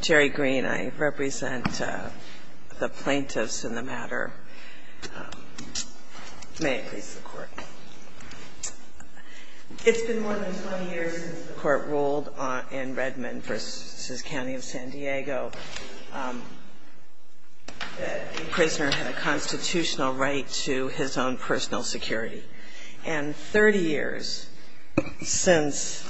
It's been more than 20 years since the court ruled in Redmond v. County of San Diego that a prisoner had a constitutional right to his own personal security. And 30 years since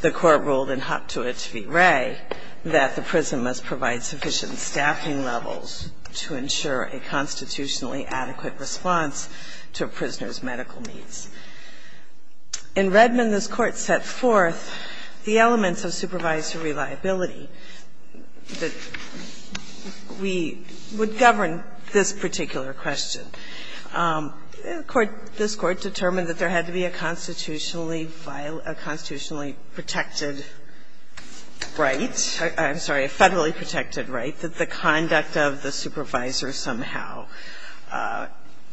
the court ruled in Hopte v. Ray that the prison must provide sufficient staffing levels to ensure a constitutionally adequate response to a prisoner's medical needs. In Redmond, this Court set forth the elements of supervisory reliability that we would govern this particular question. This Court determined that there had to be a constitutionally violated – a constitutionally protected right – I'm sorry, a federally protected right that the conduct of the supervisor somehow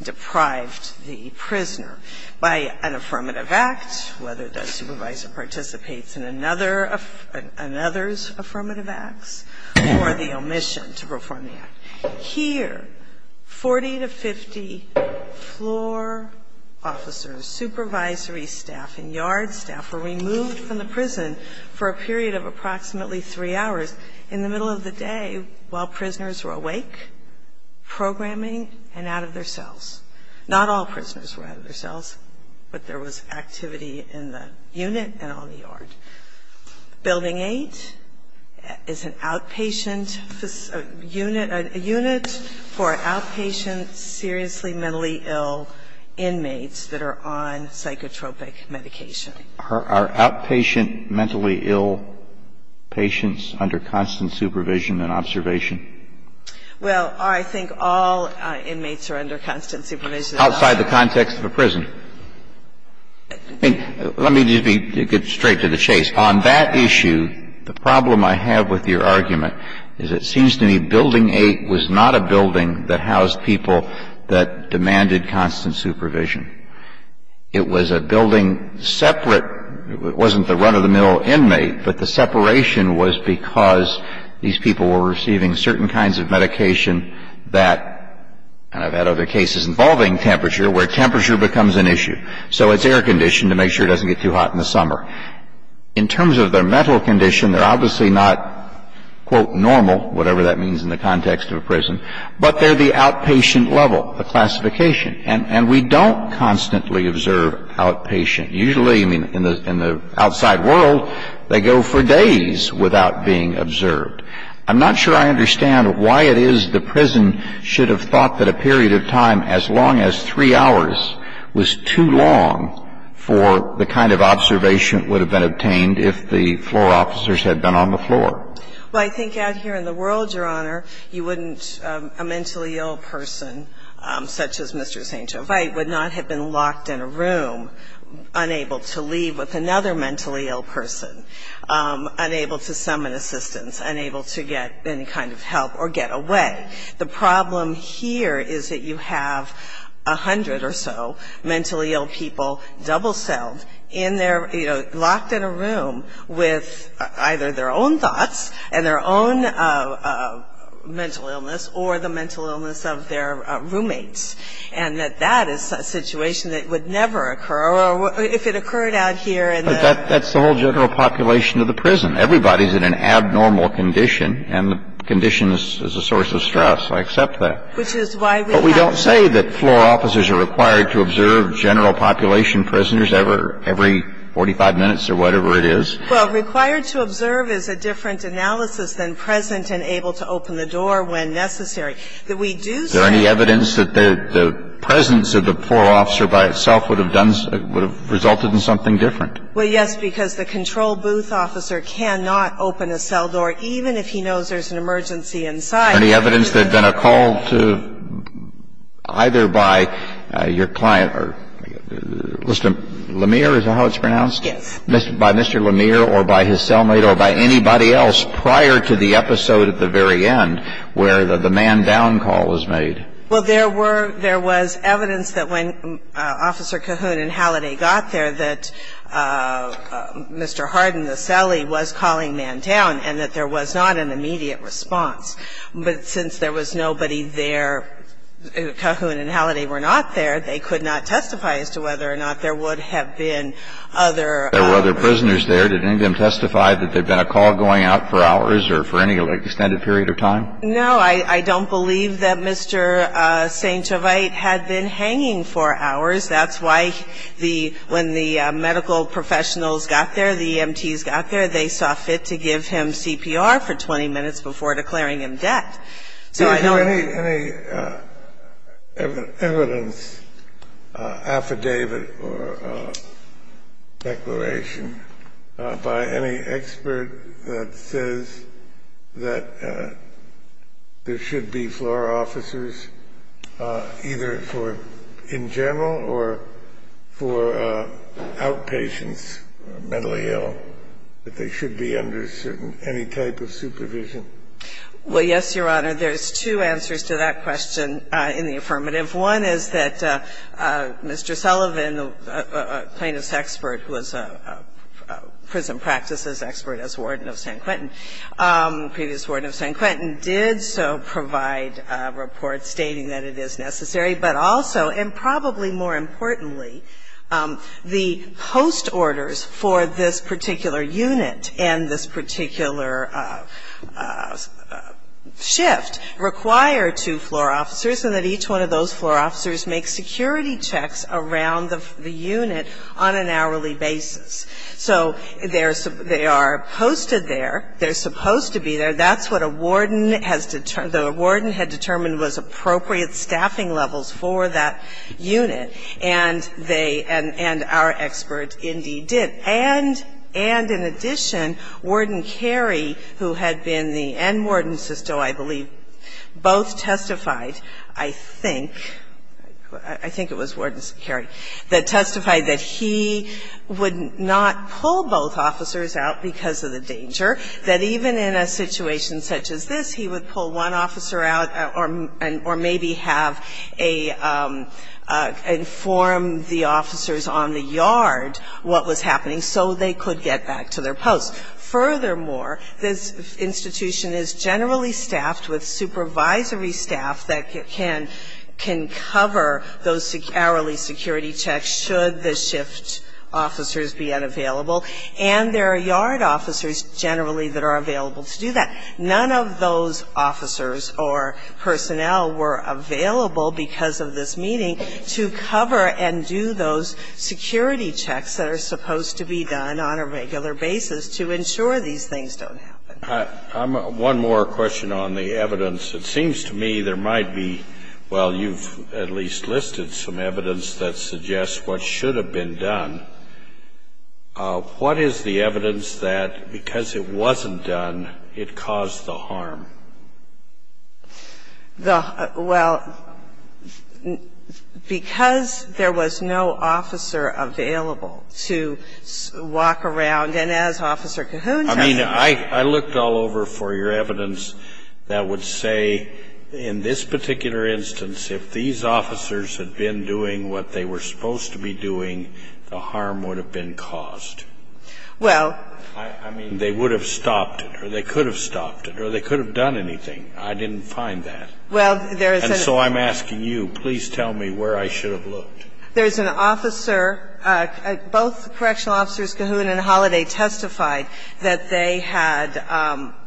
deprived the prisoner by an affirmative act, whether the supervisor participates in another – another's affirmative acts, or the omission to perform the act. Here, 40 to 50 floor officers, supervisory staff, and yard staff were removed from the prison for a period of approximately three hours. In the middle of the day, while prisoners were awake, programming, and out of their cells. Not all prisoners were out of their cells, but there was activity in the unit and on the yard. Building 8 is an outpatient unit, a unit for outpatient, seriously mentally ill inmates that are on psychotropic medication. Are outpatient mentally ill patients under constant supervision and observation? Well, I think all inmates are under constant supervision. Outside the context of a prison. Let me just be – get straight to the chase. On that issue, the problem I have with your argument is it seems to me Building 8 was not a building that housed people that demanded constant supervision. It was a building separate – it wasn't the run-of-the-mill inmate, but the separation was because these people were receiving certain kinds of medication that – and I've had other cases involving temperature, where temperature becomes an issue. So it's air conditioned to make sure it doesn't get too hot in the summer. In terms of their mental condition, they're obviously not, quote, normal, whatever that means in the context of a prison, but they're the outpatient level, a classification. And we don't constantly observe outpatient. Usually, I mean, in the outside world, they go for days without being observed. I'm not sure I understand why it is the prison should have thought that a period of time as long as three hours was too long for the kind of observation that would have been obtained if the floor officers had been on the floor. Well, I think out here in the world, Your Honor, you wouldn't – a mentally ill person, such as Mr. St. Jovite, would not have been locked in a room, unable to leave with another mentally ill person, unable to summon assistance, unable to get any kind of help or get away. The problem here is that you have a hundred or so mentally ill people double-celled in their – you know, locked in a room with either their own thoughts and their own mental illness or the mental illness of their roommates. And that that is a situation that would never occur if it occurred out here in the – But that's the whole general population of the prison. Everybody's in an abnormal condition, and the condition is a source of stress. I accept that. Which is why we have – But we don't say that floor officers are required to observe general population prisoners every 45 minutes or whatever it is. Well, required to observe is a different analysis than present and able to open the door when necessary. That we do say – Is there any evidence that the presence of the floor officer by itself would have done – would have resulted in something different? Well, yes, because the control booth officer cannot open a cell door, even if he knows there's an emergency inside. Any evidence that then a call to – either by your client or – was it Lemire? Is that how it's pronounced? Yes. By Mr. Lemire or by his cellmate or by anybody else prior to the episode at the very end where the man down call was made. Well, there were – there was evidence that when Officer Cahoon and Halliday got there that Mr. Harden, the cellie, was calling man down and that there was not an immediate response. But since there was nobody there – Cahoon and Halliday were not there, they could not testify as to whether or not there would have been other – There were other prisoners there. Did any of them testify that there had been a call going out for hours or for any extended period of time? No, I don't believe that Mr. St. Gervais had been hanging for hours. That's why the – when the medical professionals got there, the EMTs got there, they saw fit to give him CPR for 20 minutes before declaring him dead. Any evidence, affidavit or declaration by any expert that says that there should be floor officers either for – in general or for outpatients or mentally ill, that they should be under any type of supervision? Well, yes, Your Honor. There's two answers to that question in the affirmative. One is that Mr. Sullivan, a plaintiff's expert who was a prison practices expert as warden of San Quentin, previous warden of San Quentin, did so provide a report stating that it is necessary, but also, and probably more importantly, the post orders for this particular unit and this particular shift require two floor officers and that each one of those floor officers make security checks around the unit on an hourly basis. So they are posted there. They're supposed to be there. That's what a warden has – the warden had determined was appropriate staffing levels for that unit, and they – and our expert indeed did. And in addition, Warden Carey, who had been the – and Warden Sisto, I believe, both testified, I think – I think it was Warden Carey that testified that he would not pull both officers out because of the danger, that even in a situation such as this, he would pull one officer out or maybe have a – inform the officers on the yard what was happening so they could get back to their post. Furthermore, this institution is generally staffed with supervisory staff that can cover those hourly security checks should the shift officers be unavailable, and there are yard officers generally that are available to do that. None of those officers or personnel were available, because of this meeting, to cover and do those security checks that are supposed to be done on a regular basis to ensure these things don't happen. One more question on the evidence. It seems to me there might be – well, you've at least listed some evidence that suggests what should have been done. What is the evidence that because it wasn't done, it caused the harm? The – well, because there was no officer available to walk around, and as Officer Cahoon testified – I mean, I looked all over for your evidence that would say in this particular instance, if these officers had been doing what they were supposed to be doing, the harm would have been caused. Well – I mean, they would have stopped it, or they could have stopped it, or they could have done anything. I didn't find that. Well, there is a – And so I'm asking you, please tell me where I should have looked. There is an officer – both Correctional Officers Cahoon and Holliday testified that they had –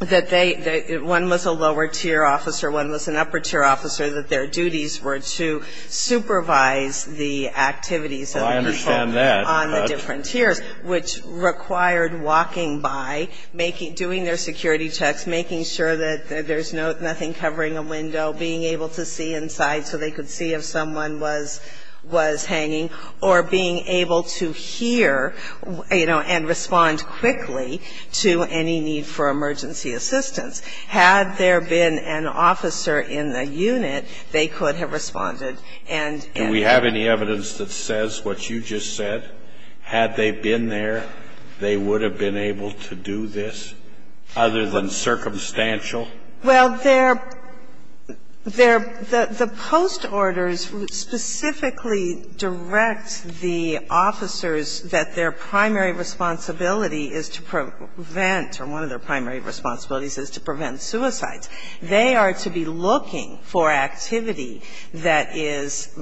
that they – one was a lower-tier officer, one was an upper-tier officer, that their duties were to supervise the activities of the people on the different tiers, which required walking by, doing their security checks, making sure that there's nothing covering a window, being able to see inside so they could see if someone was hanging, or being able to hear, you know, and respond quickly to any need for emergency assistance. Had there been an officer in the unit, they could have responded and – Do we have any evidence that says what you just said? Had they been there, they would have been able to do this, other than circumstantial? Well, their – their – the post orders specifically direct the officers that their primary responsibility is to prevent, or one of their primary responsibilities is to prevent suicides. They are to be looking for activity that is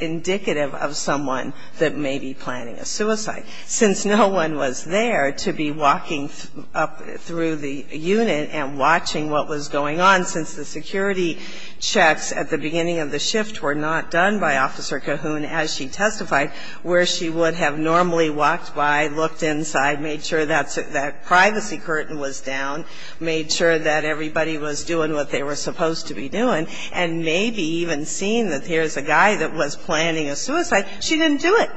indicative of someone that may be planning a suicide. Since no one was there to be walking up through the unit and watching what was going on, since the security checks at the beginning of the shift were not done by Officer Cahoon as she testified, where she would have normally walked by, looked inside, made sure that privacy curtain was down, made sure that everybody was doing what they were supposed to be doing, and maybe even seen that here's a guy that was planning a suicide, she didn't do it.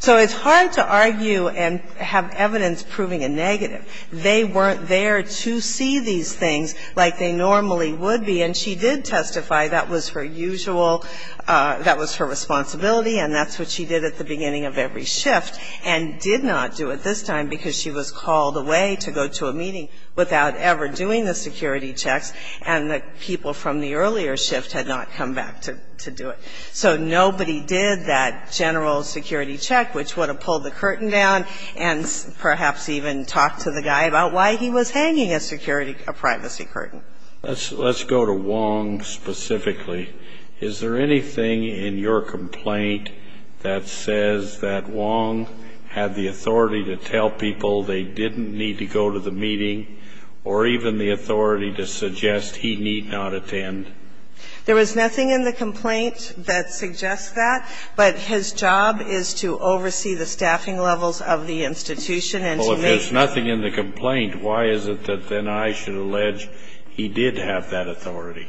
So it's hard to argue and have evidence proving a negative. They weren't there to see these things like they normally would be. And she did testify that was her usual – that was her responsibility, and that's what she did at the beginning of every shift, and did not do it this time because she was called away to go to a meeting without ever doing the security checks, and the people from the earlier shift had not come back to do it. So nobody did that general security check, which would have pulled the curtain down and perhaps even talked to the guy about why he was hanging a security – a privacy curtain. Let's go to Wong specifically. Is there anything in your complaint that says that Wong had the authority to tell people they didn't need to go to the meeting, or even the authority to suggest he need not attend? There was nothing in the complaint that suggests that, but his job is to oversee the staffing levels of the institution and to make sure – He did have that authority.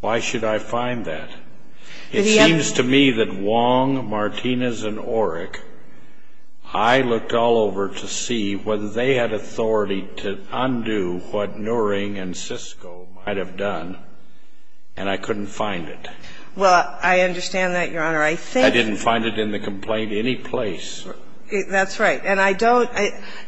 Why should I find that? It seems to me that Wong, Martinez, and Orrick – I looked all over to see whether they had authority to undo what Nuring and Sisco might have done, and I couldn't find it. Well, I understand that, Your Honor. I think – I didn't find it in the complaint any place. That's right. And I don't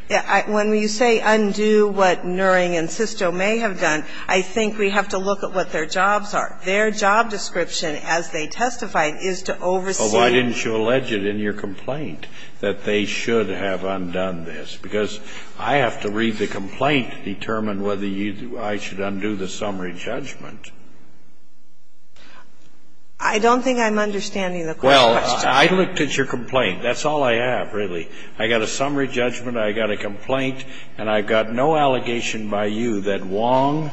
– when you say undo what Nuring and Sisco may have done, I think we have to look at what their jobs are. Their job description as they testified is to oversee – Well, why didn't you allege it in your complaint that they should have undone this? Because I have to read the complaint to determine whether I should undo the summary judgment. I don't think I'm understanding the question. Well, I looked at your complaint. That's all I have, really. I got a summary judgment, I got a complaint, and I've got no allegation by you that Wong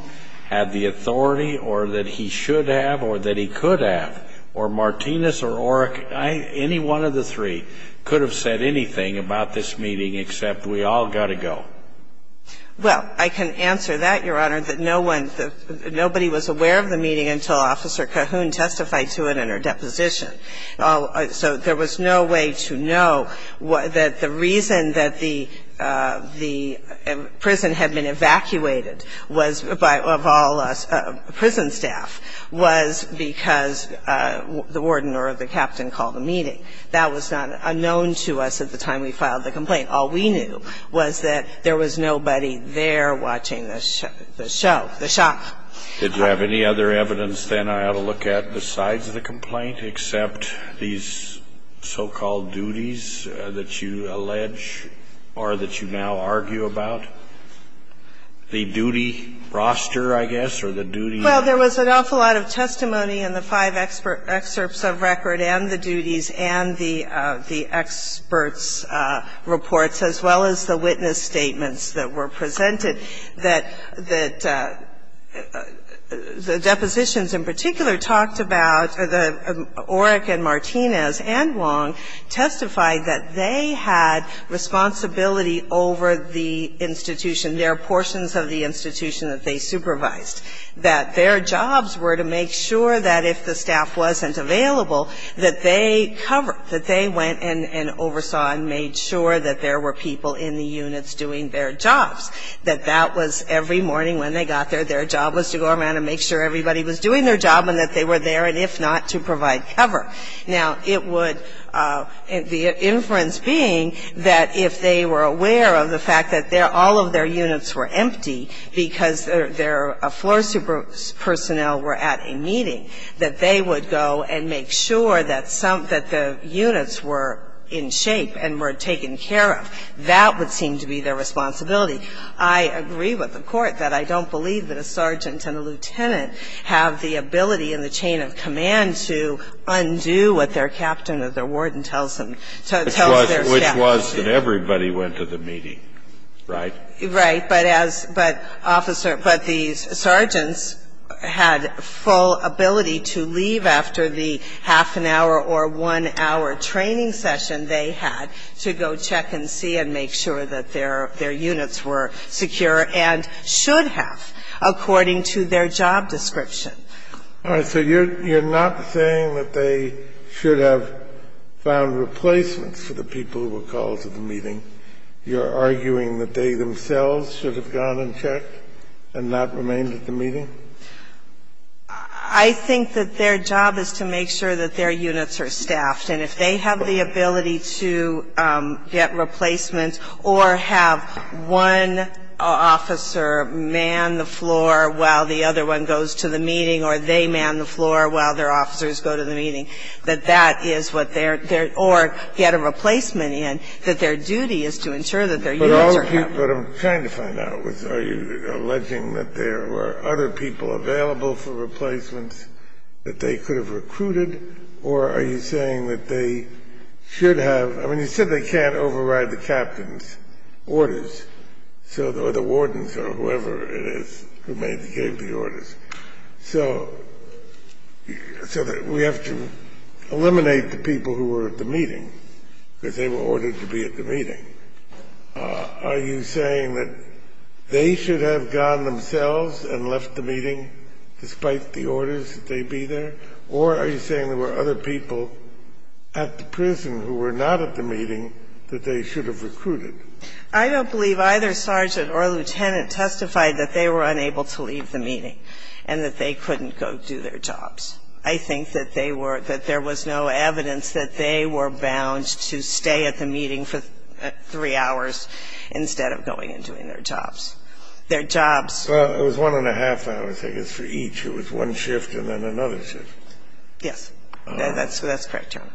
had the authority or that he should have or that he could have, or Martinez or Orrick – any one of the three could have said anything about this meeting except we all got to go. Well, I can answer that, Your Honor, that no one – nobody was aware of the meeting until Officer Cahoon testified to it in her deposition. So there was no way to know that the reason that the prison had been evacuated was by – of all us prison staff was because the warden or the captain called the meeting. That was not unknown to us at the time we filed the complaint. All we knew was that there was nobody there watching the show, the shop. Did you have any other evidence, then, I ought to look at besides the complaint, except these so-called duties that you allege or that you now argue about, the duty roster, I guess, or the duty? Well, there was an awful lot of testimony in the five excerpts of record and the duties and the experts' reports, as well as the witness statements that were presented, that the depositions in particular talked about – Orrick and Martinez and Wong testified that they had responsibility over the institution, their portions of the institution that they supervised, that their jobs were to make sure that if the staff wasn't available, that they covered, that they went and oversaw and made sure that there were people in the units doing their jobs, that that was every morning when they got there, their job was to go around and make sure everybody was doing their job and that they were there, and if not, to provide cover. Now, it would – the inference being that if they were aware of the fact that all of their units were empty because their floor personnel were at a meeting, that they would go and make sure that the units were in shape and were taken care of. That would seem to be their responsibility. I agree with the Court that I don't believe that a sergeant and a lieutenant have the ability in the chain of command to undo what their captain or their warden tells them, tells their staff. Which was that everybody went to the meeting, right? Right. But as – but officer – but the sergeants had full ability to leave after the half an hour or one hour training session they had to go check and see and make sure that their units were secure and should have according to their job description. All right. So you're not saying that they should have found replacements for the people who were called to the meeting? You're arguing that they themselves should have gone and checked and not remained at the meeting? I think that their job is to make sure that their units are staffed. And if they have the ability to get replacements or have one officer man the floor while the other one goes to the meeting or they man the floor while their officers go to the meeting, that that is what their – or get a replacement in, that their duty is to ensure that their units are staffed. What I'm trying to find out is are you alleging that there were other people available for replacements that they could have recruited or are you saying that they should have – I mean, you said they can't override the captain's orders. So – or the warden's or whoever it is who gave the orders. So we have to eliminate the people who were at the meeting because they were ordered to be at the meeting. Are you saying that they should have gone themselves and left the meeting despite the orders that they be there, or are you saying there were other people at the prison who were not at the meeting that they should have recruited? I don't believe either sergeant or lieutenant testified that they were unable to leave the meeting and that they couldn't go do their jobs. I think that they were – that there was no evidence that they were bound to stay at the meeting for three hours instead of going and doing their jobs. Their jobs – Well, it was one and a half hours, I guess, for each. It was one shift and then another shift. Yes. That's the correct term.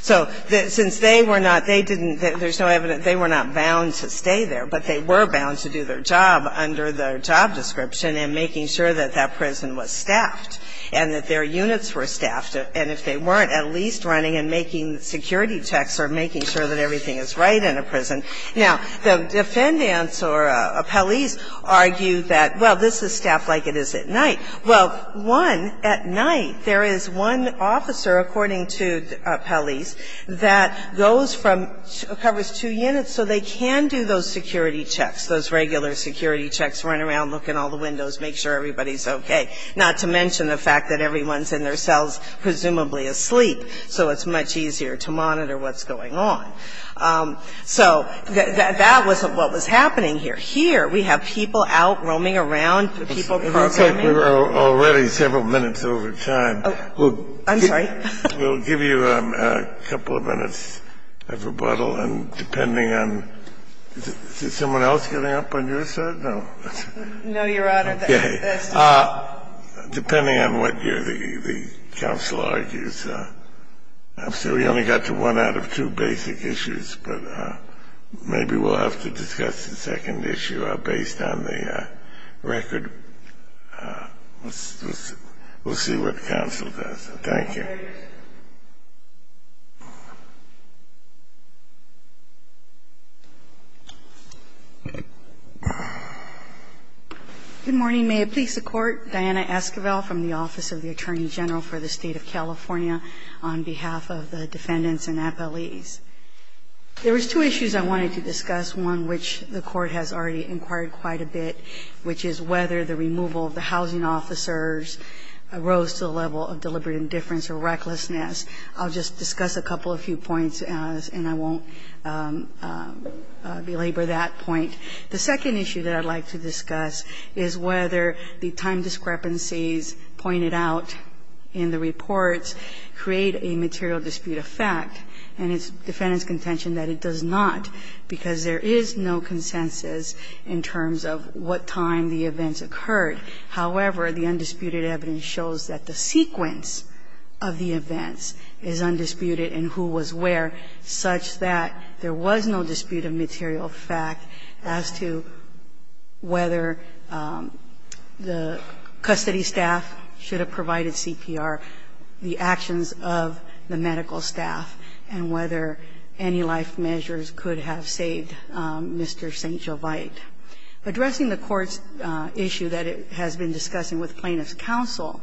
So since they were not – they didn't – there's no evidence – they were not bound to stay there, but they were bound to do their job under the job description and making sure that that prison was staffed and that their units were staffed. And if they weren't, at least running and making security checks or making sure that everything is right in a prison. Now, the defendants or appellees argue that, well, this is staffed like it is at night. Well, one, at night there is one officer, according to appellees, that goes from – covers two units, so they can do those security checks, those regular security checks, run around, look in all the windows, make sure everybody's okay, not to mention the fact that everyone's in their cells, presumably asleep, so it's much easier to monitor what's going on. So that was what was happening here. Here we have people out roaming around, people programming. It looks like we're already several minutes over time. I'm sorry? We'll give you a couple of minutes of rebuttal, and depending on – is someone else getting up on your side? No. No, Your Honor. Okay. Depending on what the counsel argues. We only got to one out of two basic issues, but maybe we'll have to discuss the second issue based on the record. We'll see what counsel does. Thank you. Good morning. May it please the Court. Diana Esquivel from the Office of the Attorney General for the State of California on behalf of the defendants and appellees. There was two issues I wanted to discuss, one which the Court has already inquired quite a bit, which is whether the removal of the housing officers rose to the level of deliberate indifference or recklessness. I'll just discuss a couple of few points, and I won't belabor that point. The second issue that I'd like to discuss is whether the time discrepancies pointed out in the reports create a material dispute of fact. And it's defendant's contention that it does not, because there is no consensus in terms of what time the events occurred. However, the undisputed evidence shows that the sequence of the events is undisputed in who was where, such that there was no dispute of material fact as to whether the custody staff should have provided CPR, the actions of the medical staff, and whether any life measures could have saved Mr. St. Jovite. Addressing the Court's issue that it has been discussing with plaintiff's counsel,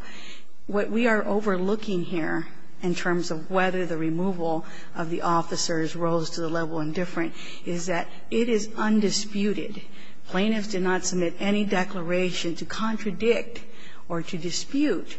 what we are overlooking here in terms of whether the removal of the officers rose to the level of indifferent is that it is undisputed, plaintiffs did not submit any declaration to contradict or to dispute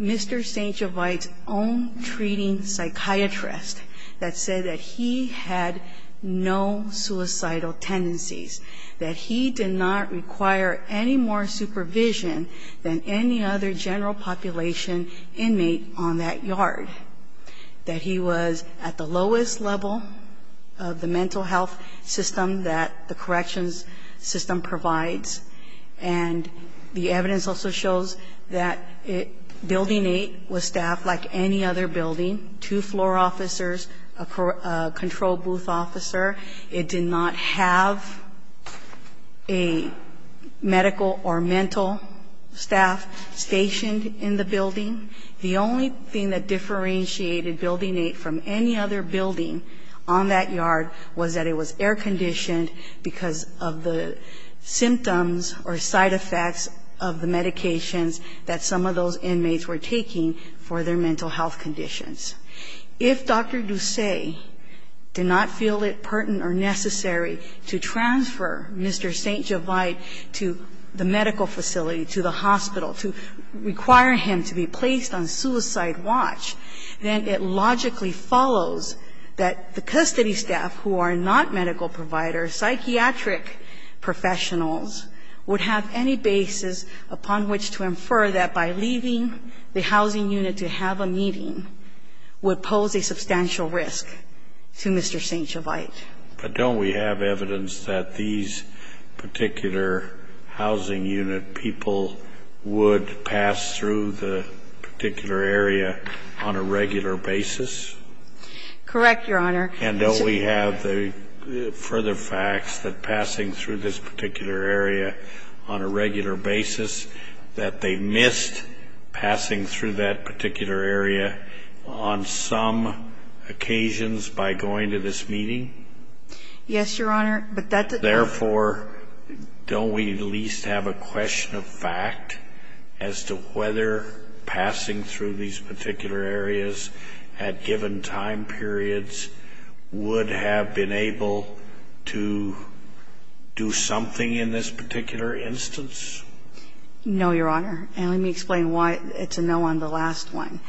Mr. St. Jovite's own treating psychiatrist that said that he had no suicidal tendencies, that he did not require any more supervision than any other general population inmate on that yard, that he was at the lowest level of the mental health system that the corrections system provides, and the evidence also shows that Building 8 was staffed like any other building, two floor officers, a control booth officer. It did not have a medical or mental staff stationed in the building. The only thing that differentiated Building 8 from any other building on that yard was that it was air-conditioned because of the symptoms or side effects of the medical medications that some of those inmates were taking for their mental health conditions. If Dr. Ducey did not feel it pertinent or necessary to transfer Mr. St. Jovite to the medical facility, to the hospital, to require him to be placed on suicide watch, then it logically follows that the custody staff who are not medical providers, psychiatric professionals, would have any basis upon which to infer that by leaving the housing unit to have a meeting would pose a substantial risk to Mr. St. Jovite. But don't we have evidence that these particular housing unit people would pass through the particular area on a regular basis? Correct, Your Honor. And don't we have the further facts that passing through this particular area on a regular basis that they missed passing through that particular area on some occasions by going to this meeting? Yes, Your Honor. Therefore, don't we at least have a question of fact as to whether passing through these particular areas at given time periods would have been able to do something in this particular instance? No, Your Honor. And let me explain why it's a no on the last one.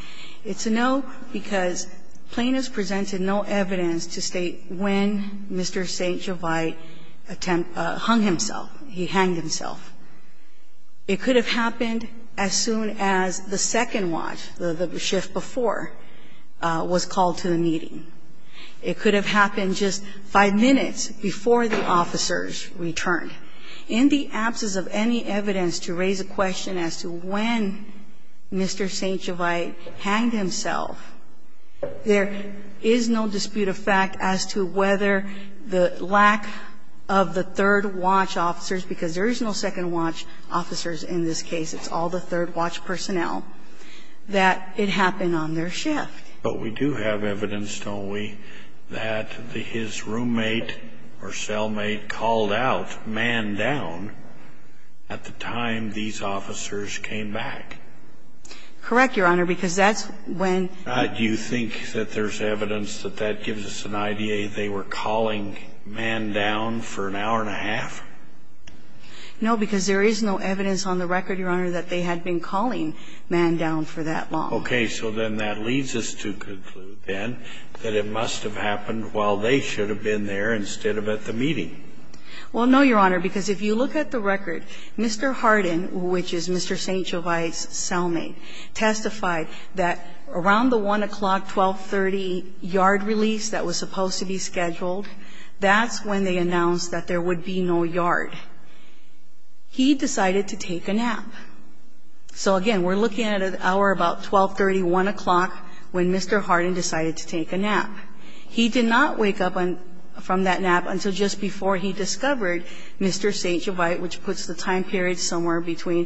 It's a no because plaintiffs presented no evidence to state when Mr. St. Jovite hung himself, he hanged himself. It could have happened as soon as the second watch, the shift before, was called to the meeting. It could have happened just five minutes before the officers returned. In the absence of any evidence to raise a question as to when Mr. St. Jovite hanged himself, there is no dispute of fact as to whether the lack of the third watch officers, because there is no second watch officers in this case. It's all the third watch personnel, that it happened on their shift. But we do have evidence, don't we, that his roommate or cellmate called out man down at the time these officers came back? Correct, Your Honor, because that's when you think that there's evidence that that No, because there is no evidence on the record, Your Honor, that they had been calling man down for that long. Okay. So then that leads us to conclude, then, that it must have happened while they should have been there instead of at the meeting. Well, no, Your Honor, because if you look at the record, Mr. Hardin, which is Mr. St. Jovite's cellmate, testified that around the 1 o'clock, 12.30 yard release that was supposed to be scheduled, that's when they announced that there would be no yard. He decided to take a nap. So, again, we're looking at an hour about 12.30, 1 o'clock, when Mr. Hardin decided to take a nap. He did not wake up from that nap until just before he discovered Mr. St. Jovite, which puts the time period somewhere between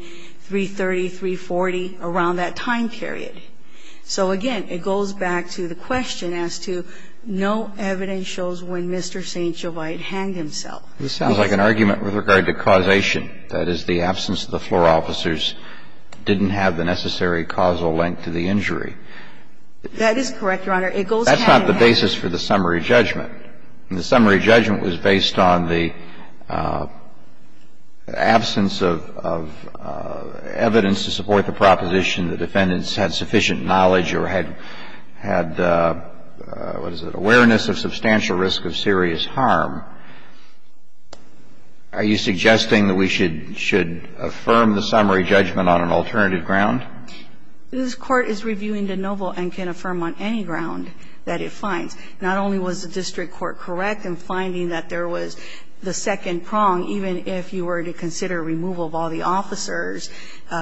3.30, 3.40, around that time period. So, again, it goes back to the question as to no evidence shows when Mr. St. Jovite hanged himself. This sounds like an argument with regard to causation. That is, the absence of the floor officers didn't have the necessary causal link to the injury. That is correct, Your Honor. It goes back to that. That's not the basis for the summary judgment. The summary judgment was based on the absence of evidence to support the proposition that the defendants had sufficient knowledge or had, what is it, awareness of substantial risk of serious harm. Are you suggesting that we should affirm the summary judgment on an alternative ground? This Court is reviewing de novo and can affirm on any ground that it finds. Not only was the district court correct in finding that there was the second prong, even if you were to consider removal of all the officers,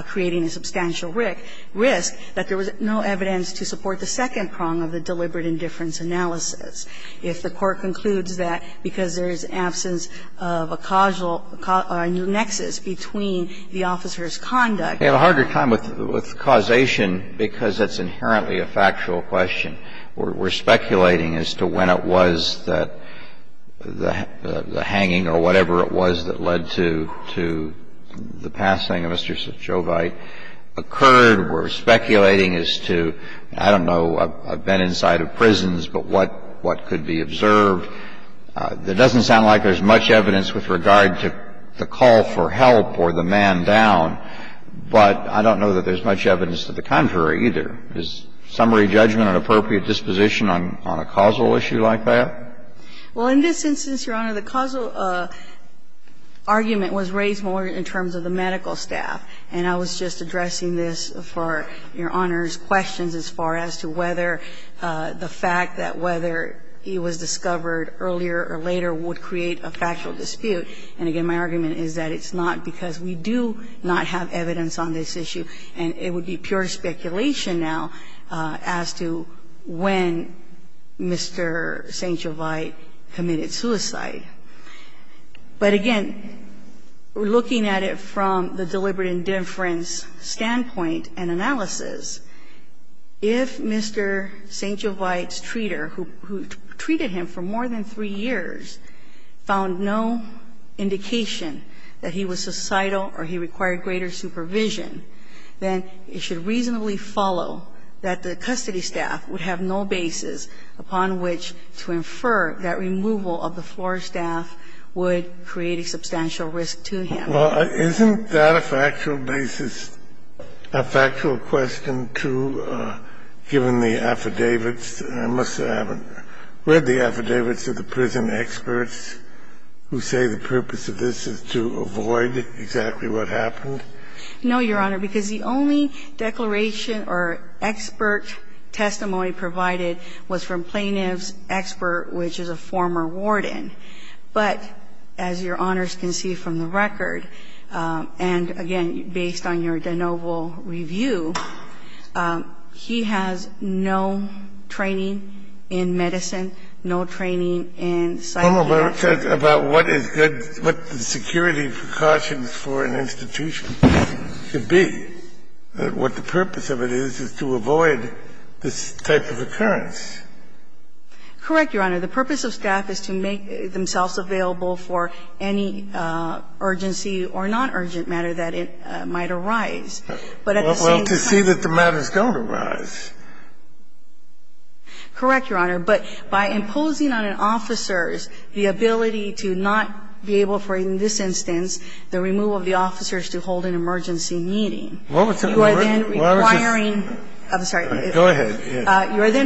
creating a substantial risk, that there was no evidence to support the second prong of the deliberate indifference analysis. If the Court concludes that because there is absence of a causal or a new nexus between the officers' conduct. We have a harder time with causation because it's inherently a factual question. We're speculating as to when it was that the hanging or whatever it was that led to the passing of Mr. Shovite occurred. We're speculating as to, I don't know, I've been inside of prisons, but what could be observed. It doesn't sound like there's much evidence with regard to the call for help or the man down, but I don't know that there's much evidence to the contrary either. Is summary judgment an appropriate disposition on a causal issue like that? Well, in this instance, Your Honor, the causal argument was raised more in terms of the medical staff, and I was just addressing this for Your Honor's questions as far as to whether the fact that whether he was discovered earlier or later would create a factual dispute. And again, my argument is that it's not because we do not have evidence on this issue, and it would be pure speculation now as to when Mr. St. Jovite committed suicide. But again, looking at it from the deliberate indifference standpoint and analysis, if Mr. St. Jovite's treater, who treated him for more than three years, found no indication that he was suicidal or he required greater supervision, then it should reasonably follow that the custody staff would have no basis upon which to infer that removal of the floor staff would create a substantial risk to him. Well, isn't that a factual basis, a factual question, too, given the affidavits? I must have read the affidavits of the prison experts who say the purpose of this is to avoid exactly what happened. No, Your Honor, because the only declaration or expert testimony provided was from plaintiff's expert, which is a former warden. But as Your Honors can see from the record, and again, based on your de novo review, he has no training in medicine, no training in psychology. Well, but it says about what is good, what the security precautions for an institution should be, what the purpose of it is, is to avoid this type of occurrence. Correct, Your Honor. The purpose of staff is to make themselves available for any urgency or non-urgent matter that might arise. But at the same time to see that the matter is going to arise. Correct, Your Honor. But by imposing on an officer the ability to not be able for, in this instance, the removal of the officers to hold an emergency meeting, you are then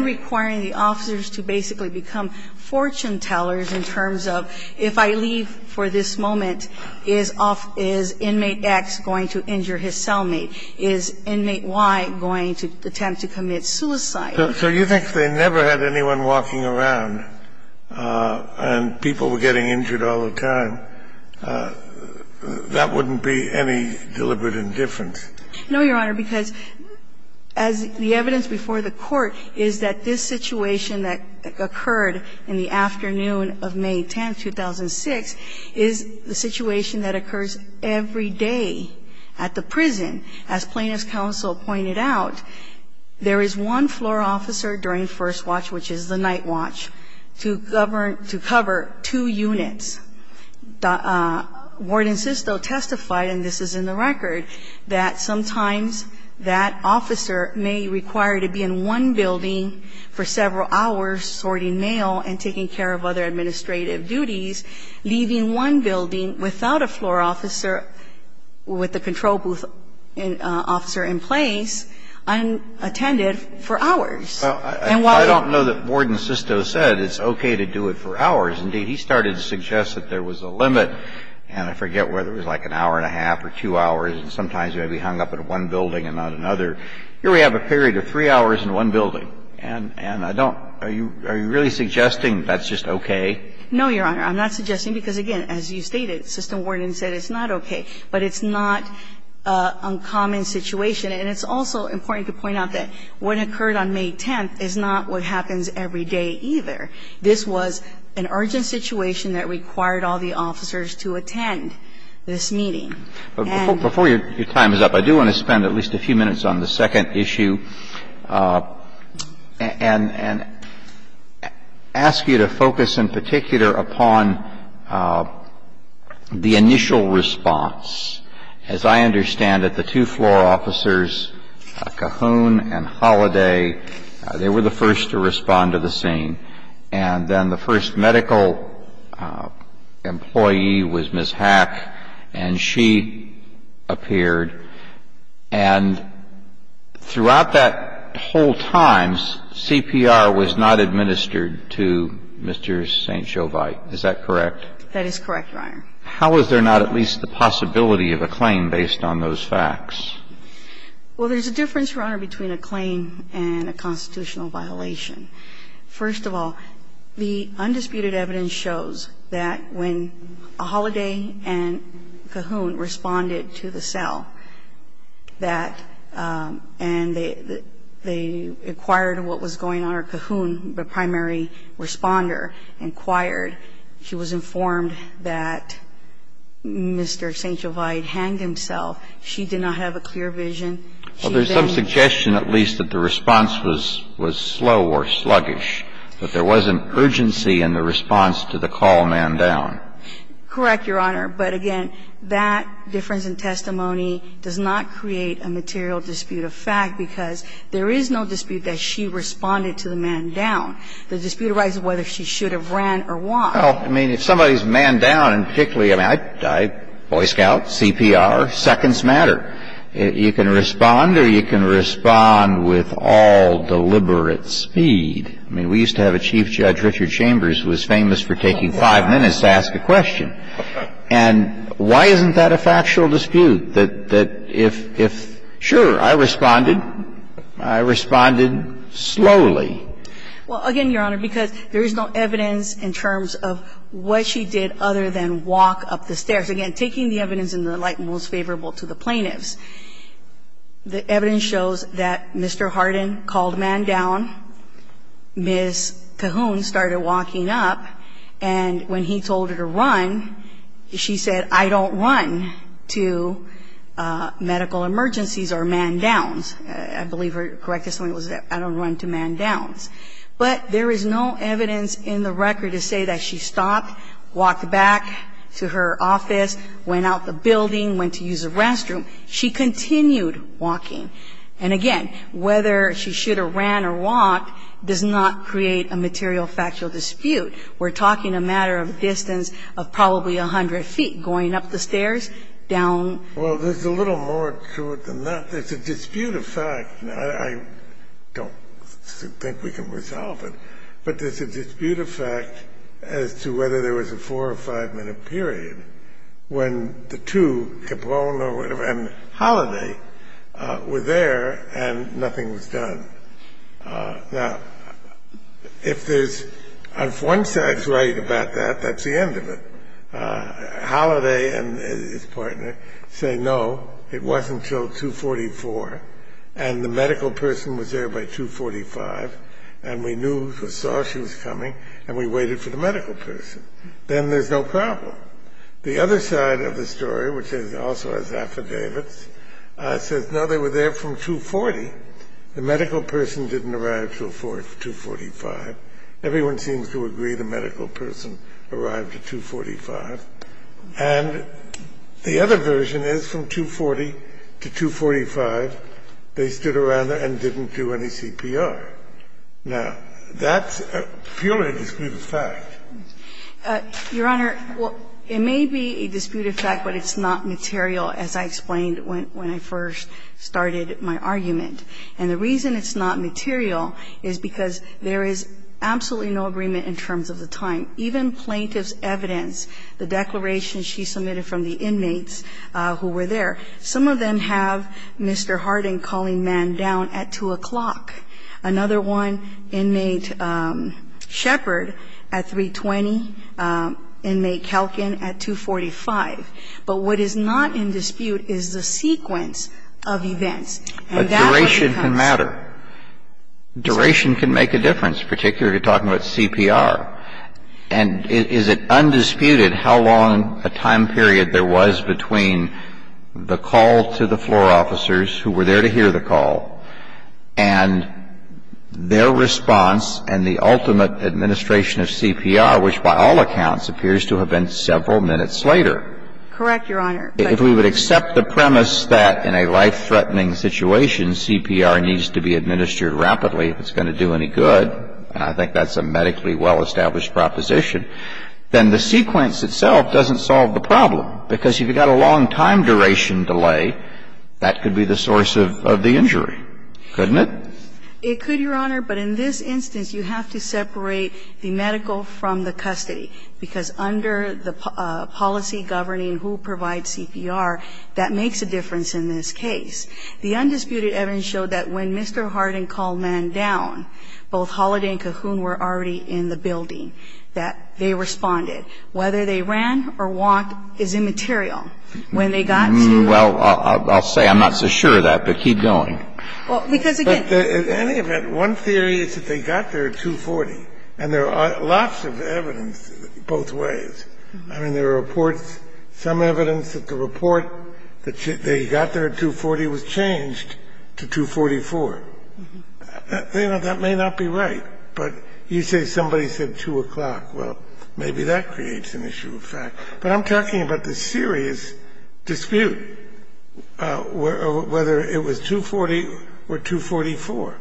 requiring the officers to basically become fortune tellers in terms of, if I leave for this moment, is inmate X going to injure his cellmate? Is inmate Y going to attempt to commit suicide? So you think if they never had anyone walking around and people were getting injured all the time, that wouldn't be any deliberate indifference? No, Your Honor, because as the evidence before the Court is that this situation that occurred in the afternoon of May 10th, 2006, is the situation that occurs every day at the prison, as Plaintiff's counsel pointed out, there is one floor officer during first watch, which is the night watch, to govern to cover two units. Warden Sisto testified, and this is in the record, that sometimes that officer may require to be in one building for several hours sorting mail and taking care of other administrative duties, leaving one building without a floor officer with the control booth officer in place unattended for hours. And while I don't know that Warden Sisto said it's okay to do it for hours. Indeed, he started to suggest that there was a limit, and I forget whether it was like an hour and a half or two hours, and sometimes you had to be hung up in one building and not another. Here we have a period of three hours in one building, and I don't – are you really suggesting that's just okay? No, Your Honor. I'm not suggesting because, again, as you stated, System Warden said it's not okay. But it's not an uncommon situation. And it's also important to point out that what occurred on May 10th is not what happens every day either. This was an urgent situation that required all the officers to attend this meeting. And – But before your time is up, I do want to spend at least a few minutes on the second one, the initial response. As I understand it, the two floor officers, Cahoon and Holliday, they were the first to respond to the scene. And then the first medical employee was Ms. Hack, and she appeared. And throughout that whole time, CPR was not administered to Mr. St. Jovite. Is that correct? That is correct, Your Honor. How is there not at least the possibility of a claim based on those facts? Well, there's a difference, Your Honor, between a claim and a constitutional violation. First of all, the undisputed evidence shows that when Holliday and Cahoon responded to the cell that – and they inquired what was going on, or Cahoon, the primary responder, inquired, she was informed that Mr. St. Jovite hanged himself. She did not have a clear vision. She then – Well, there's some suggestion at least that the response was slow or sluggish, that there wasn't urgency in the response to the call man down. Correct, Your Honor. But again, that difference in testimony does not create a material dispute of fact, because there is no dispute that she responded to the man down. The dispute arises whether she should have ran or walked. Well, I mean, if somebody's manned down, and particularly – I mean, Boy Scout, CPR, seconds matter. You can respond or you can respond with all deliberate speed. I mean, we used to have a Chief Judge, Richard Chambers, who was famous for taking five minutes to ask a question. And why isn't that a factual dispute, that if – sure, I responded. I responded slowly. Well, again, Your Honor, because there is no evidence in terms of what she did other than walk up the stairs. Again, taking the evidence in the light most favorable to the plaintiffs, the evidence shows that Mr. Hardin called a man down, Ms. Cahoon started walking up, and when he told her to run, she said, I don't run to medical emergencies or man downs. I believe her correctness was, I don't run to man downs. But there is no evidence in the record to say that she stopped, walked back to her office, went out the building, went to use the restroom. She continued walking. And again, whether she should have ran or walked does not create a material factual dispute. We're talking a matter of distance of probably 100 feet, going up the stairs, down. Well, there's a little more to it than that. There's a dispute of fact. Now, I don't think we can resolve it, but there's a dispute of fact as to whether there was a four or five minute period when the two, Capone and Holiday, were there and nothing was done. Now, if there's, if one side's right about that, that's the end of it. Holiday and his partner say, no, it wasn't until 2.44 and the medical person was there by 2.45 and we knew or saw she was coming and we waited for the medical person. Then there's no problem. The other side of the story, which also has affidavits, says, no, they were there from 2.40. The medical person didn't arrive till 2.45. Everyone seems to agree the medical person arrived at 2.45. And the other version is from 2.40 to 2.45, they stood around there and didn't do any CPR. Now, that's purely a dispute of fact. Your Honor, it may be a dispute of fact, but it's not material, as I explained when I first started my argument. And the reason it's not material is because there is absolutely no agreement in terms of the time. Even plaintiff's evidence, the declaration she submitted from the inmates who were there, some of them have Mr. Harding calling Mann down at 2 o'clock. Another one, inmate Shepard at 3.20, inmate Kalkin at 2.45. And that's where it comes from. But duration can matter. Duration can make a difference, particularly talking about CPR. And is it undisputed how long a time period there was between the call to the floor officers who were there to hear the call and their response and the ultimate administration of CPR, which by all accounts appears to have been several minutes later? Correct, Your Honor. If we would accept the premise that in a life-threatening situation CPR needs to be administered rapidly, if it's going to do any good, and I think that's a medically well-established proposition, then the sequence itself doesn't solve the problem, because if you've got a long time duration delay, that could be the source of the injury, couldn't it? It could, Your Honor, but in this instance, you have to separate the medical from the custody, because under the policy governing who provides CPR, that makes a difference in this case. The undisputed evidence showed that when Mr. Hardin called Mann down, both Holliday and Cahoon were already in the building, that they responded. Whether they ran or walked is immaterial. When they got to the floor officers, they were already there. Well, I'll say I'm not so sure of that, but keep going. Because, again But in any event, one theory is that they got there at 2.40, and there are lots of evidence both ways. I mean, there are reports, some evidence that the report that they got there at 2.40 was changed to 2.44. You know, that may not be right, but you say somebody said 2 o'clock. Well, maybe that creates an issue of fact. But I'm talking about the serious dispute, whether it was 2.40 or 2.44.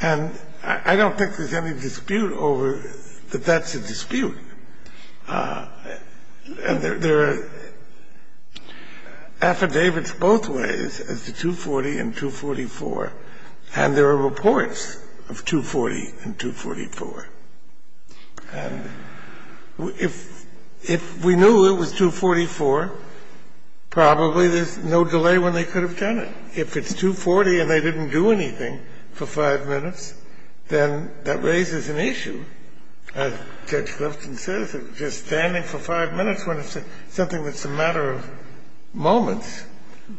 And I don't think there's any dispute over that that's a dispute. And there are affidavits both ways as to 2.40 and 2.44, and there are reports of 2.40 and 2.44. And if we knew it was 2.44, probably there's no delay when they could have done it. If it's 2.40 and they didn't do anything for 5 minutes, then that raises an issue. As Judge Clifton says, just standing for 5 minutes when it's something that's a matter of moments.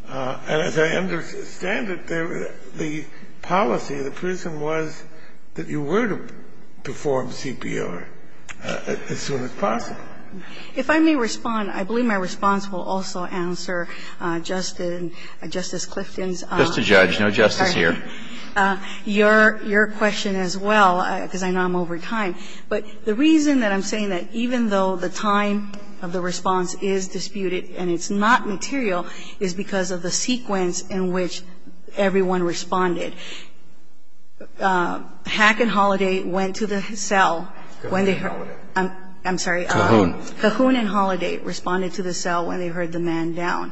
And as I understand it, the policy, the prism was that you were to perform CPR as soon as possible. If I may respond, I believe my response will also answer Justice Clifton's. Just to judge. No justice here. Your question as well, because I know I'm over time. But the reason that I'm saying that even though the time of the response is disputed and it's not material is because of the sequence in which everyone responded. Hack and Holiday went to the cell when they heard. I'm sorry. Cajun and Holiday responded to the cell when they heard the man down.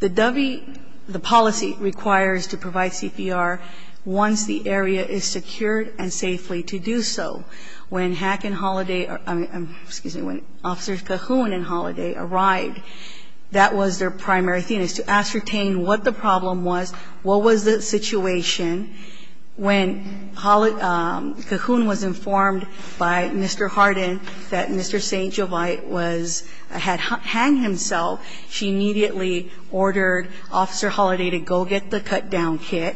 The policy requires to provide CPR once the area is secured and safely to do so. When Hack and Holiday or, excuse me, when Officers Cajun and Holiday arrived, that was their primary theme, to ascertain what the problem was, what was the situation. When Cajun was informed by Mr. Harden that Mr. St. Jovite had hanged himself, she immediately ordered Officer Holiday to go get the cut down kit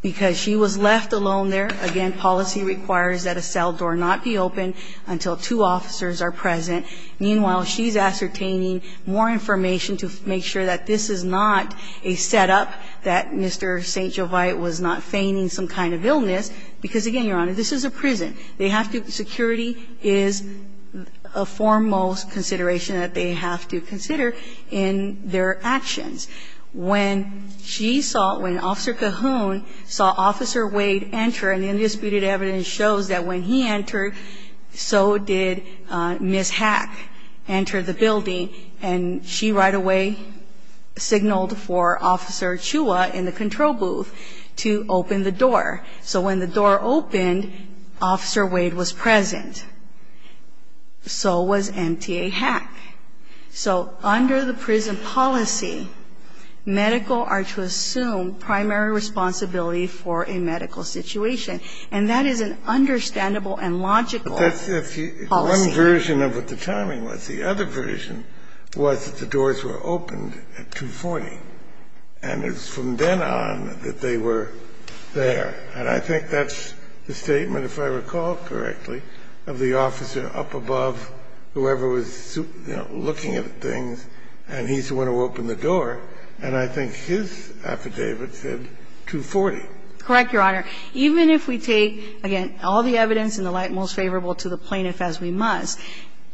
because she was left alone there. Again, policy requires that a cell door not be open until two officers are present. Meanwhile, she's ascertaining more information to make sure that this is not a setup that Mr. St. Jovite was not feigning some kind of illness, because, again, Your Honor, this is a prison. They have to be, security is a foremost consideration that they have to consider in their actions. When she saw, when Officer Cajun saw Officer Wade enter, and the undisputed evidence shows that when he entered, so did Ms. Hack enter the building, and she right away signaled for Officer Chua in the control booth to open the door. So when the door opened, Officer Wade was present. So was M.T.A. Hack. So under the prison policy, medical are to assume primary responsibility for a medical situation, and that is an understandable and logical policy. The other version of what the timing was, the other version, was that the doors were opened at 240, and it's from then on that they were there. And I think that's the statement, if I recall correctly, of the officer up above whoever was, you know, looking at things, and he's the one who opened the door, and I think his affidavit said 240. Correct, Your Honor. Even if we take, again, all the evidence and the light most favorable to the plaintiff as we must,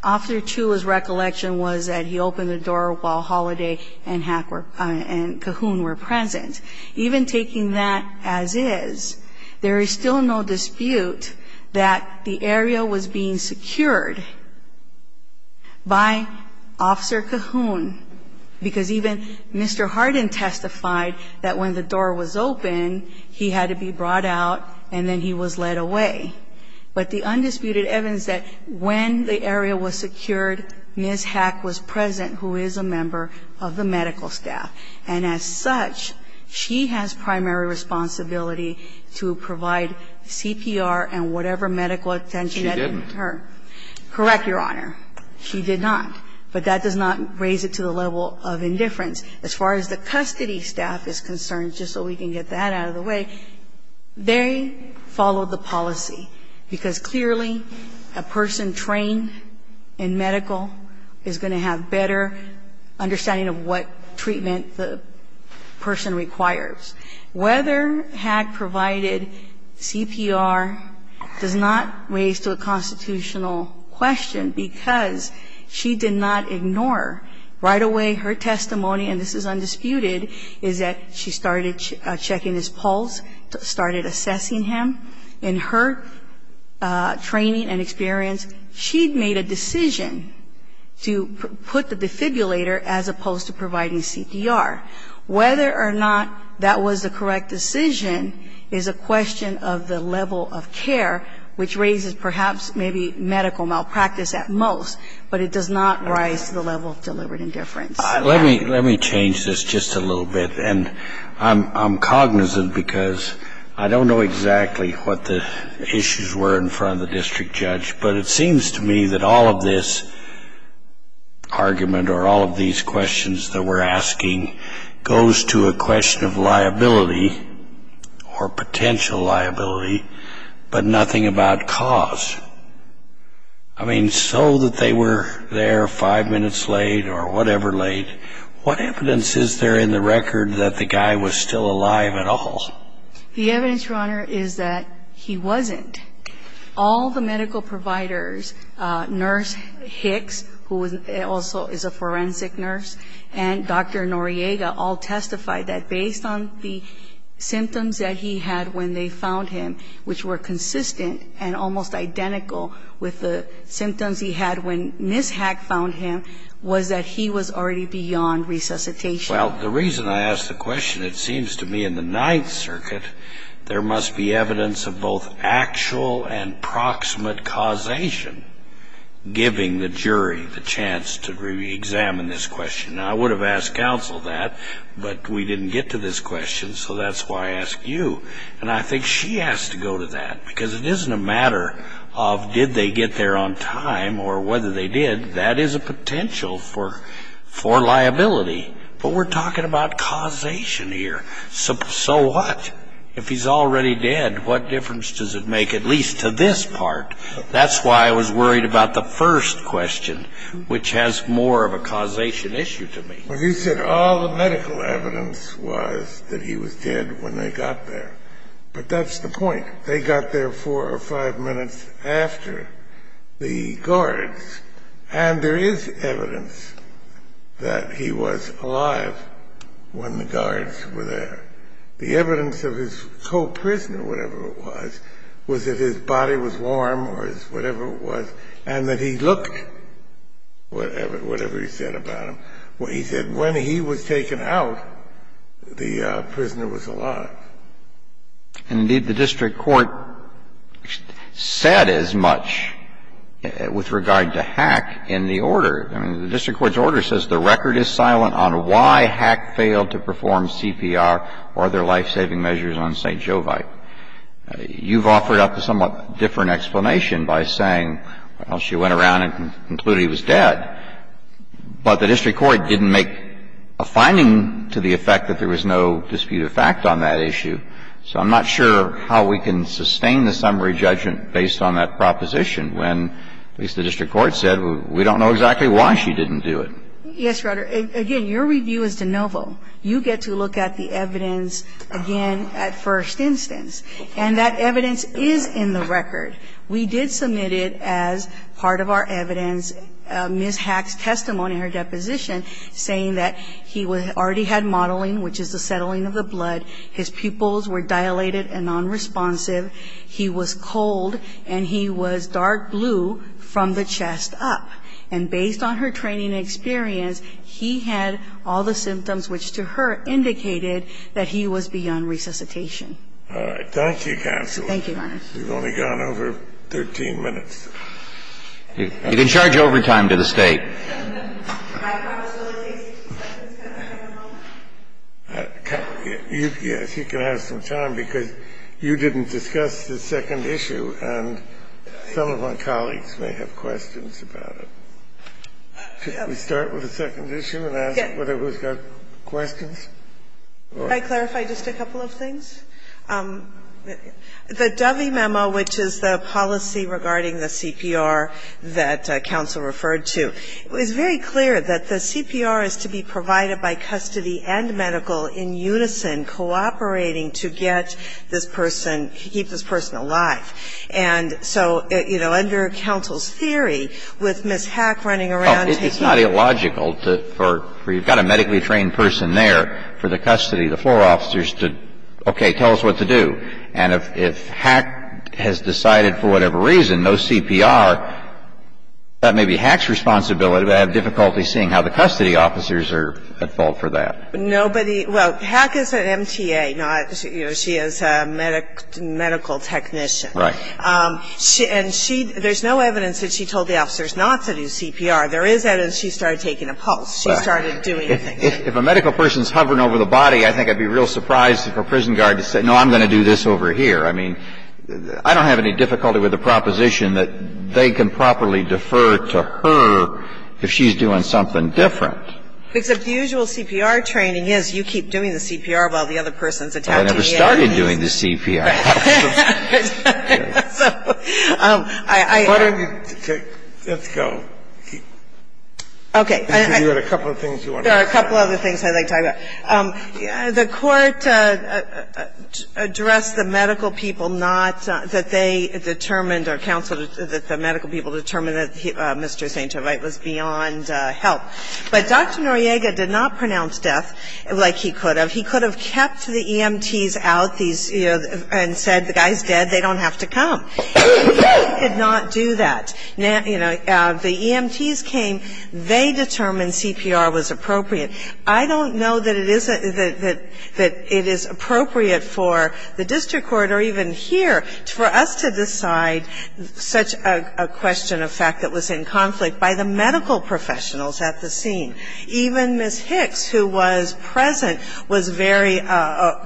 Officer Chua's recollection was that he opened the door while Holliday and Hack were, and Cajun were present. Even taking that as is, there is still no dispute that the area was being secured by Officer Cajun, because even Mr. Hardin testified that when the door was open, he had to be brought out, and then he was led away. But the undisputed evidence that when the area was secured, Ms. Hack was present, who is a member of the medical staff. And as such, she has primary responsibility to provide CPR and whatever medical attention had been given to her. Correct, Your Honor. She did not. But that does not raise it to the level of indifference. As far as the custody staff is concerned, just so we can get that out of the way, they followed the policy, because clearly a person trained in medical is going to have better understanding of what treatment the person requires. Whether Hack provided CPR does not raise to a constitutional question, because she did not ignore. Right away, her testimony, and this is undisputed, is that she started checking his pulse, started assessing him. In her training and experience, she made a decision to put the defibrillator as opposed to providing CPR. Whether or not that was the correct decision is a question of the level of care, which raises perhaps maybe medical malpractice at most, but it does not rise to the level of deliberate indifference. Let me change this just a little bit. And I'm cognizant because I don't know exactly what the issues were in front of the district judge, but it seems to me that all of this argument or all of these questions that we're asking goes to a question of liability or potential liability, but nothing about cause. I mean, so that they were there five minutes late or whatever late, what evidence is there in the record that the guy was still alive at all? The evidence, Your Honor, is that he wasn't. All the medical providers, Nurse Hicks, who also is a forensic nurse, and Dr. Noriega all testified that based on the symptoms that he had when they found him, which were consistent and almost identical with the symptoms he had when Ms. Hack found him, was that he was already beyond resuscitation. Well, the reason I ask the question, it seems to me in the Ninth Circuit, there must be evidence of both actual and proximate causation giving the jury the chance to reexamine this question. Now, I would have asked counsel that, but we didn't get to this question, so that's why I ask you. And I think she has to go to that, because it isn't a matter of did they get there on time or whether they did. That is a potential for liability. But we're talking about causation here. So what? If he's already dead, what difference does it make, at least to this part? That's why I was worried about the first question, which has more of a causation issue to me. Well, you said all the medical evidence was that he was dead when they got there. But that's the point. They got there four or five minutes after the guards, and there is evidence that he was alive when the guards were there. The evidence of his co-prisoner, whatever it was, was that his body was warm or whatever it was, and that he looked, whatever he said about him. He said when he was taken out, the prisoner was alive. And indeed, the district court said as much with regard to Hack in the order. I mean, the district court's order says the record is silent on why Hack failed to perform CPR or other life-saving measures on St. Jovite. You've offered up a somewhat different explanation by saying, well, she went around and concluded he was dead, but the district court didn't make a finding to the effect that there was no dispute of fact on that issue. So I'm not sure how we can sustain the summary judgment based on that proposition when, at least the district court said, we don't know exactly why she didn't do it. Yes, Your Honor. Again, your review is de novo. You get to look at the evidence again at first instance. And that evidence is in the record. We did submit it as part of our evidence. Ms. Hack's testimony in her deposition saying that he already had mottling, which is the settling of the blood, his pupils were dilated and nonresponsive, he was cold, and he was dark blue from the chest up. And based on her training experience, he had all the symptoms which to her indicated that he was beyond resuscitation. Thank you, counsel. Thank you, Your Honor. We've only gone over 13 minutes. You can charge overtime to the State. My apologies. You can have some time, because you didn't discuss the second issue, and some of my colleagues may have questions about it. Should we start with the second issue and ask whether we've got questions? Can I clarify just a couple of things? The Dovey memo, which is the policy regarding the CPR that counsel referred to, it was very clear that the CPR is to be provided by custody and medical in unison, cooperating to get this person, keep this person alive. And so, you know, under counsel's theory, with Ms. Hack running around and taking care of him. Well, it's not illogical for you've got a medically trained person there for the custody, the floor officers to, okay, tell us what to do. And if Hack has decided for whatever reason no CPR, that may be Hack's responsibility. But I have difficulty seeing how the custody officers are at fault for that. Nobody – well, Hack is an MTA, not – you know, she is a medical technician. Right. And she – there's no evidence that she told the officers not to do CPR. There is evidence she started taking a pulse. She started doing things. If a medical person is hovering over the body, I think I'd be real surprised if a prison guard said, no, I'm going to do this over here. I mean, I don't have any difficulty with the proposition that they can properly defer to her if she's doing something different. Except the usual CPR training is you keep doing the CPR while the other person is attached to the end. Well, I never started doing the CPR. Right. So I – Why don't you take – let's go. Okay. Because you had a couple of things you wanted to say. There are a couple of other things I'd like to talk about. The Court addressed the medical people not – that they determined or counseled – that the medical people determined that Mr. St. Gervais was beyond help. But Dr. Noriega did not pronounce death like he could have. He could have kept the EMTs out, these – you know, and said, the guy's dead, they don't have to come. He did not do that. Now, you know, the EMTs came, they determined CPR was appropriate. I don't know that it is – that it is appropriate for the district court or even here for us to decide such a question of fact that was in conflict by the medical professionals at the scene. Even Ms. Hicks, who was present, was very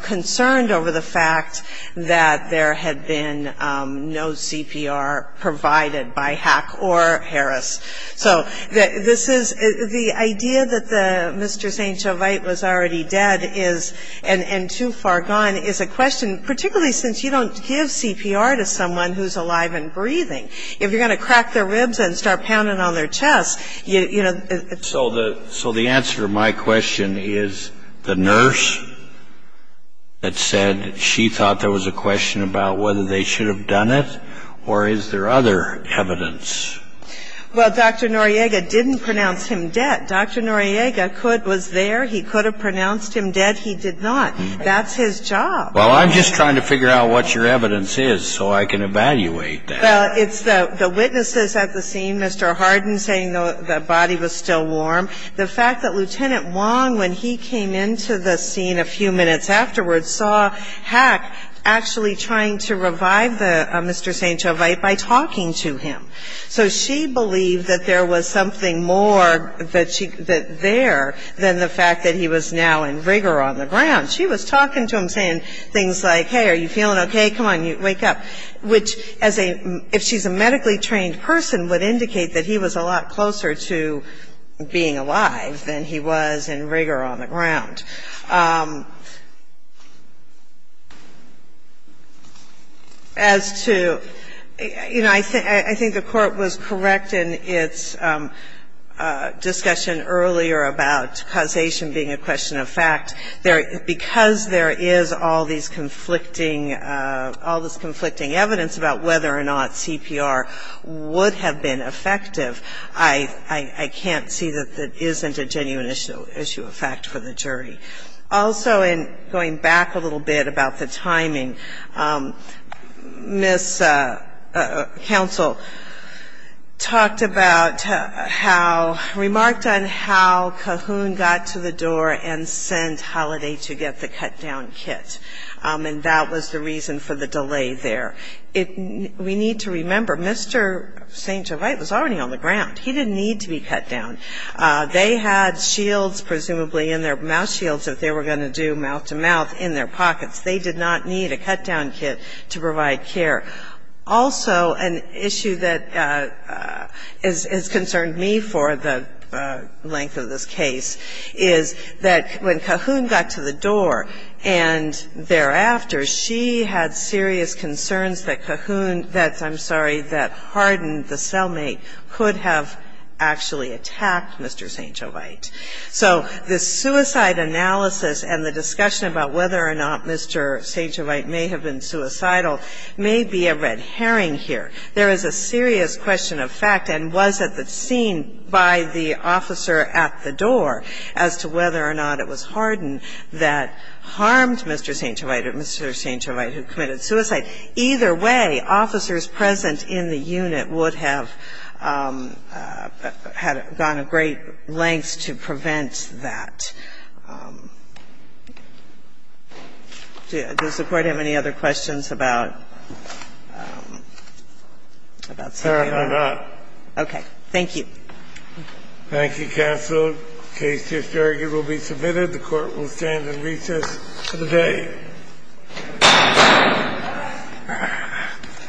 concerned over the fact that there had been no CPR provided by Hack or Harris. So this is – the idea that the – Mr. St. Gervais was already dead is – and too far gone is a question, particularly since you don't give CPR to someone who's alive and breathing. If you're going to crack their ribs and start pounding on their chest, you know – So the answer to my question is the nurse that said she thought there was a question about whether they should have done it, or is there other evidence? Well, Dr. Noriega didn't pronounce him dead. Dr. Noriega could – was there. He could have pronounced him dead. He did not. That's his job. Well, I'm just trying to figure out what your evidence is so I can evaluate that. Well, it's the witnesses at the scene, Mr. Hardin, saying the body was still warm. The fact that Lieutenant Wong, when he came into the scene a few minutes afterwards, saw Hack actually trying to revive Mr. St. Gervais by talking to him. So she believed that there was something more there than the fact that he was now in rigor on the ground. She was talking to him, saying things like, hey, are you feeling okay? Come on, wake up, which, as a – if she's a medically trained person, would indicate that he was a lot closer to being alive than he was in rigor on the ground. As to – you know, I think the Court was correct in its discussion earlier about causation being a question of fact. Because there is all these conflicting – all this conflicting evidence about whether or not CPR would have been effective, I can't see that that isn't a genuine issue of fact for the jury. Also, in going back a little bit about the timing, Ms. Counsel talked about how – remarked on how Cahoon got to the door and sent Holliday to get the cut-down kit. And that was the reason for the delay there. We need to remember, Mr. St. Gervais was already on the ground. He didn't need to be cut down. They had shields, presumably in their – mouth shields, if they were going to do mouth-to-mouth in their pockets. They did not need a cut-down kit to provide care. Also, an issue that has concerned me for the length of this case is that when Cahoon got to the door and thereafter, she had serious concerns that Cahoon – that, I'm sorry, that Cahoon had actually attacked Mr. St. Gervais. So the suicide analysis and the discussion about whether or not Mr. St. Gervais may have been suicidal may be a red herring here. There is a serious question of fact, and was it seen by the officer at the door as to whether or not it was Hardin that harmed Mr. St. Gervais or Mr. St. Gervais who committed suicide? And either way, officers present in the unit would have had gone a great length to prevent that. Does the Court have any other questions about St. Gervais? Scalia. Okay. Thank you. Thank you, counsel. The case here will be submitted. The Court will stand in recess today. Thank you.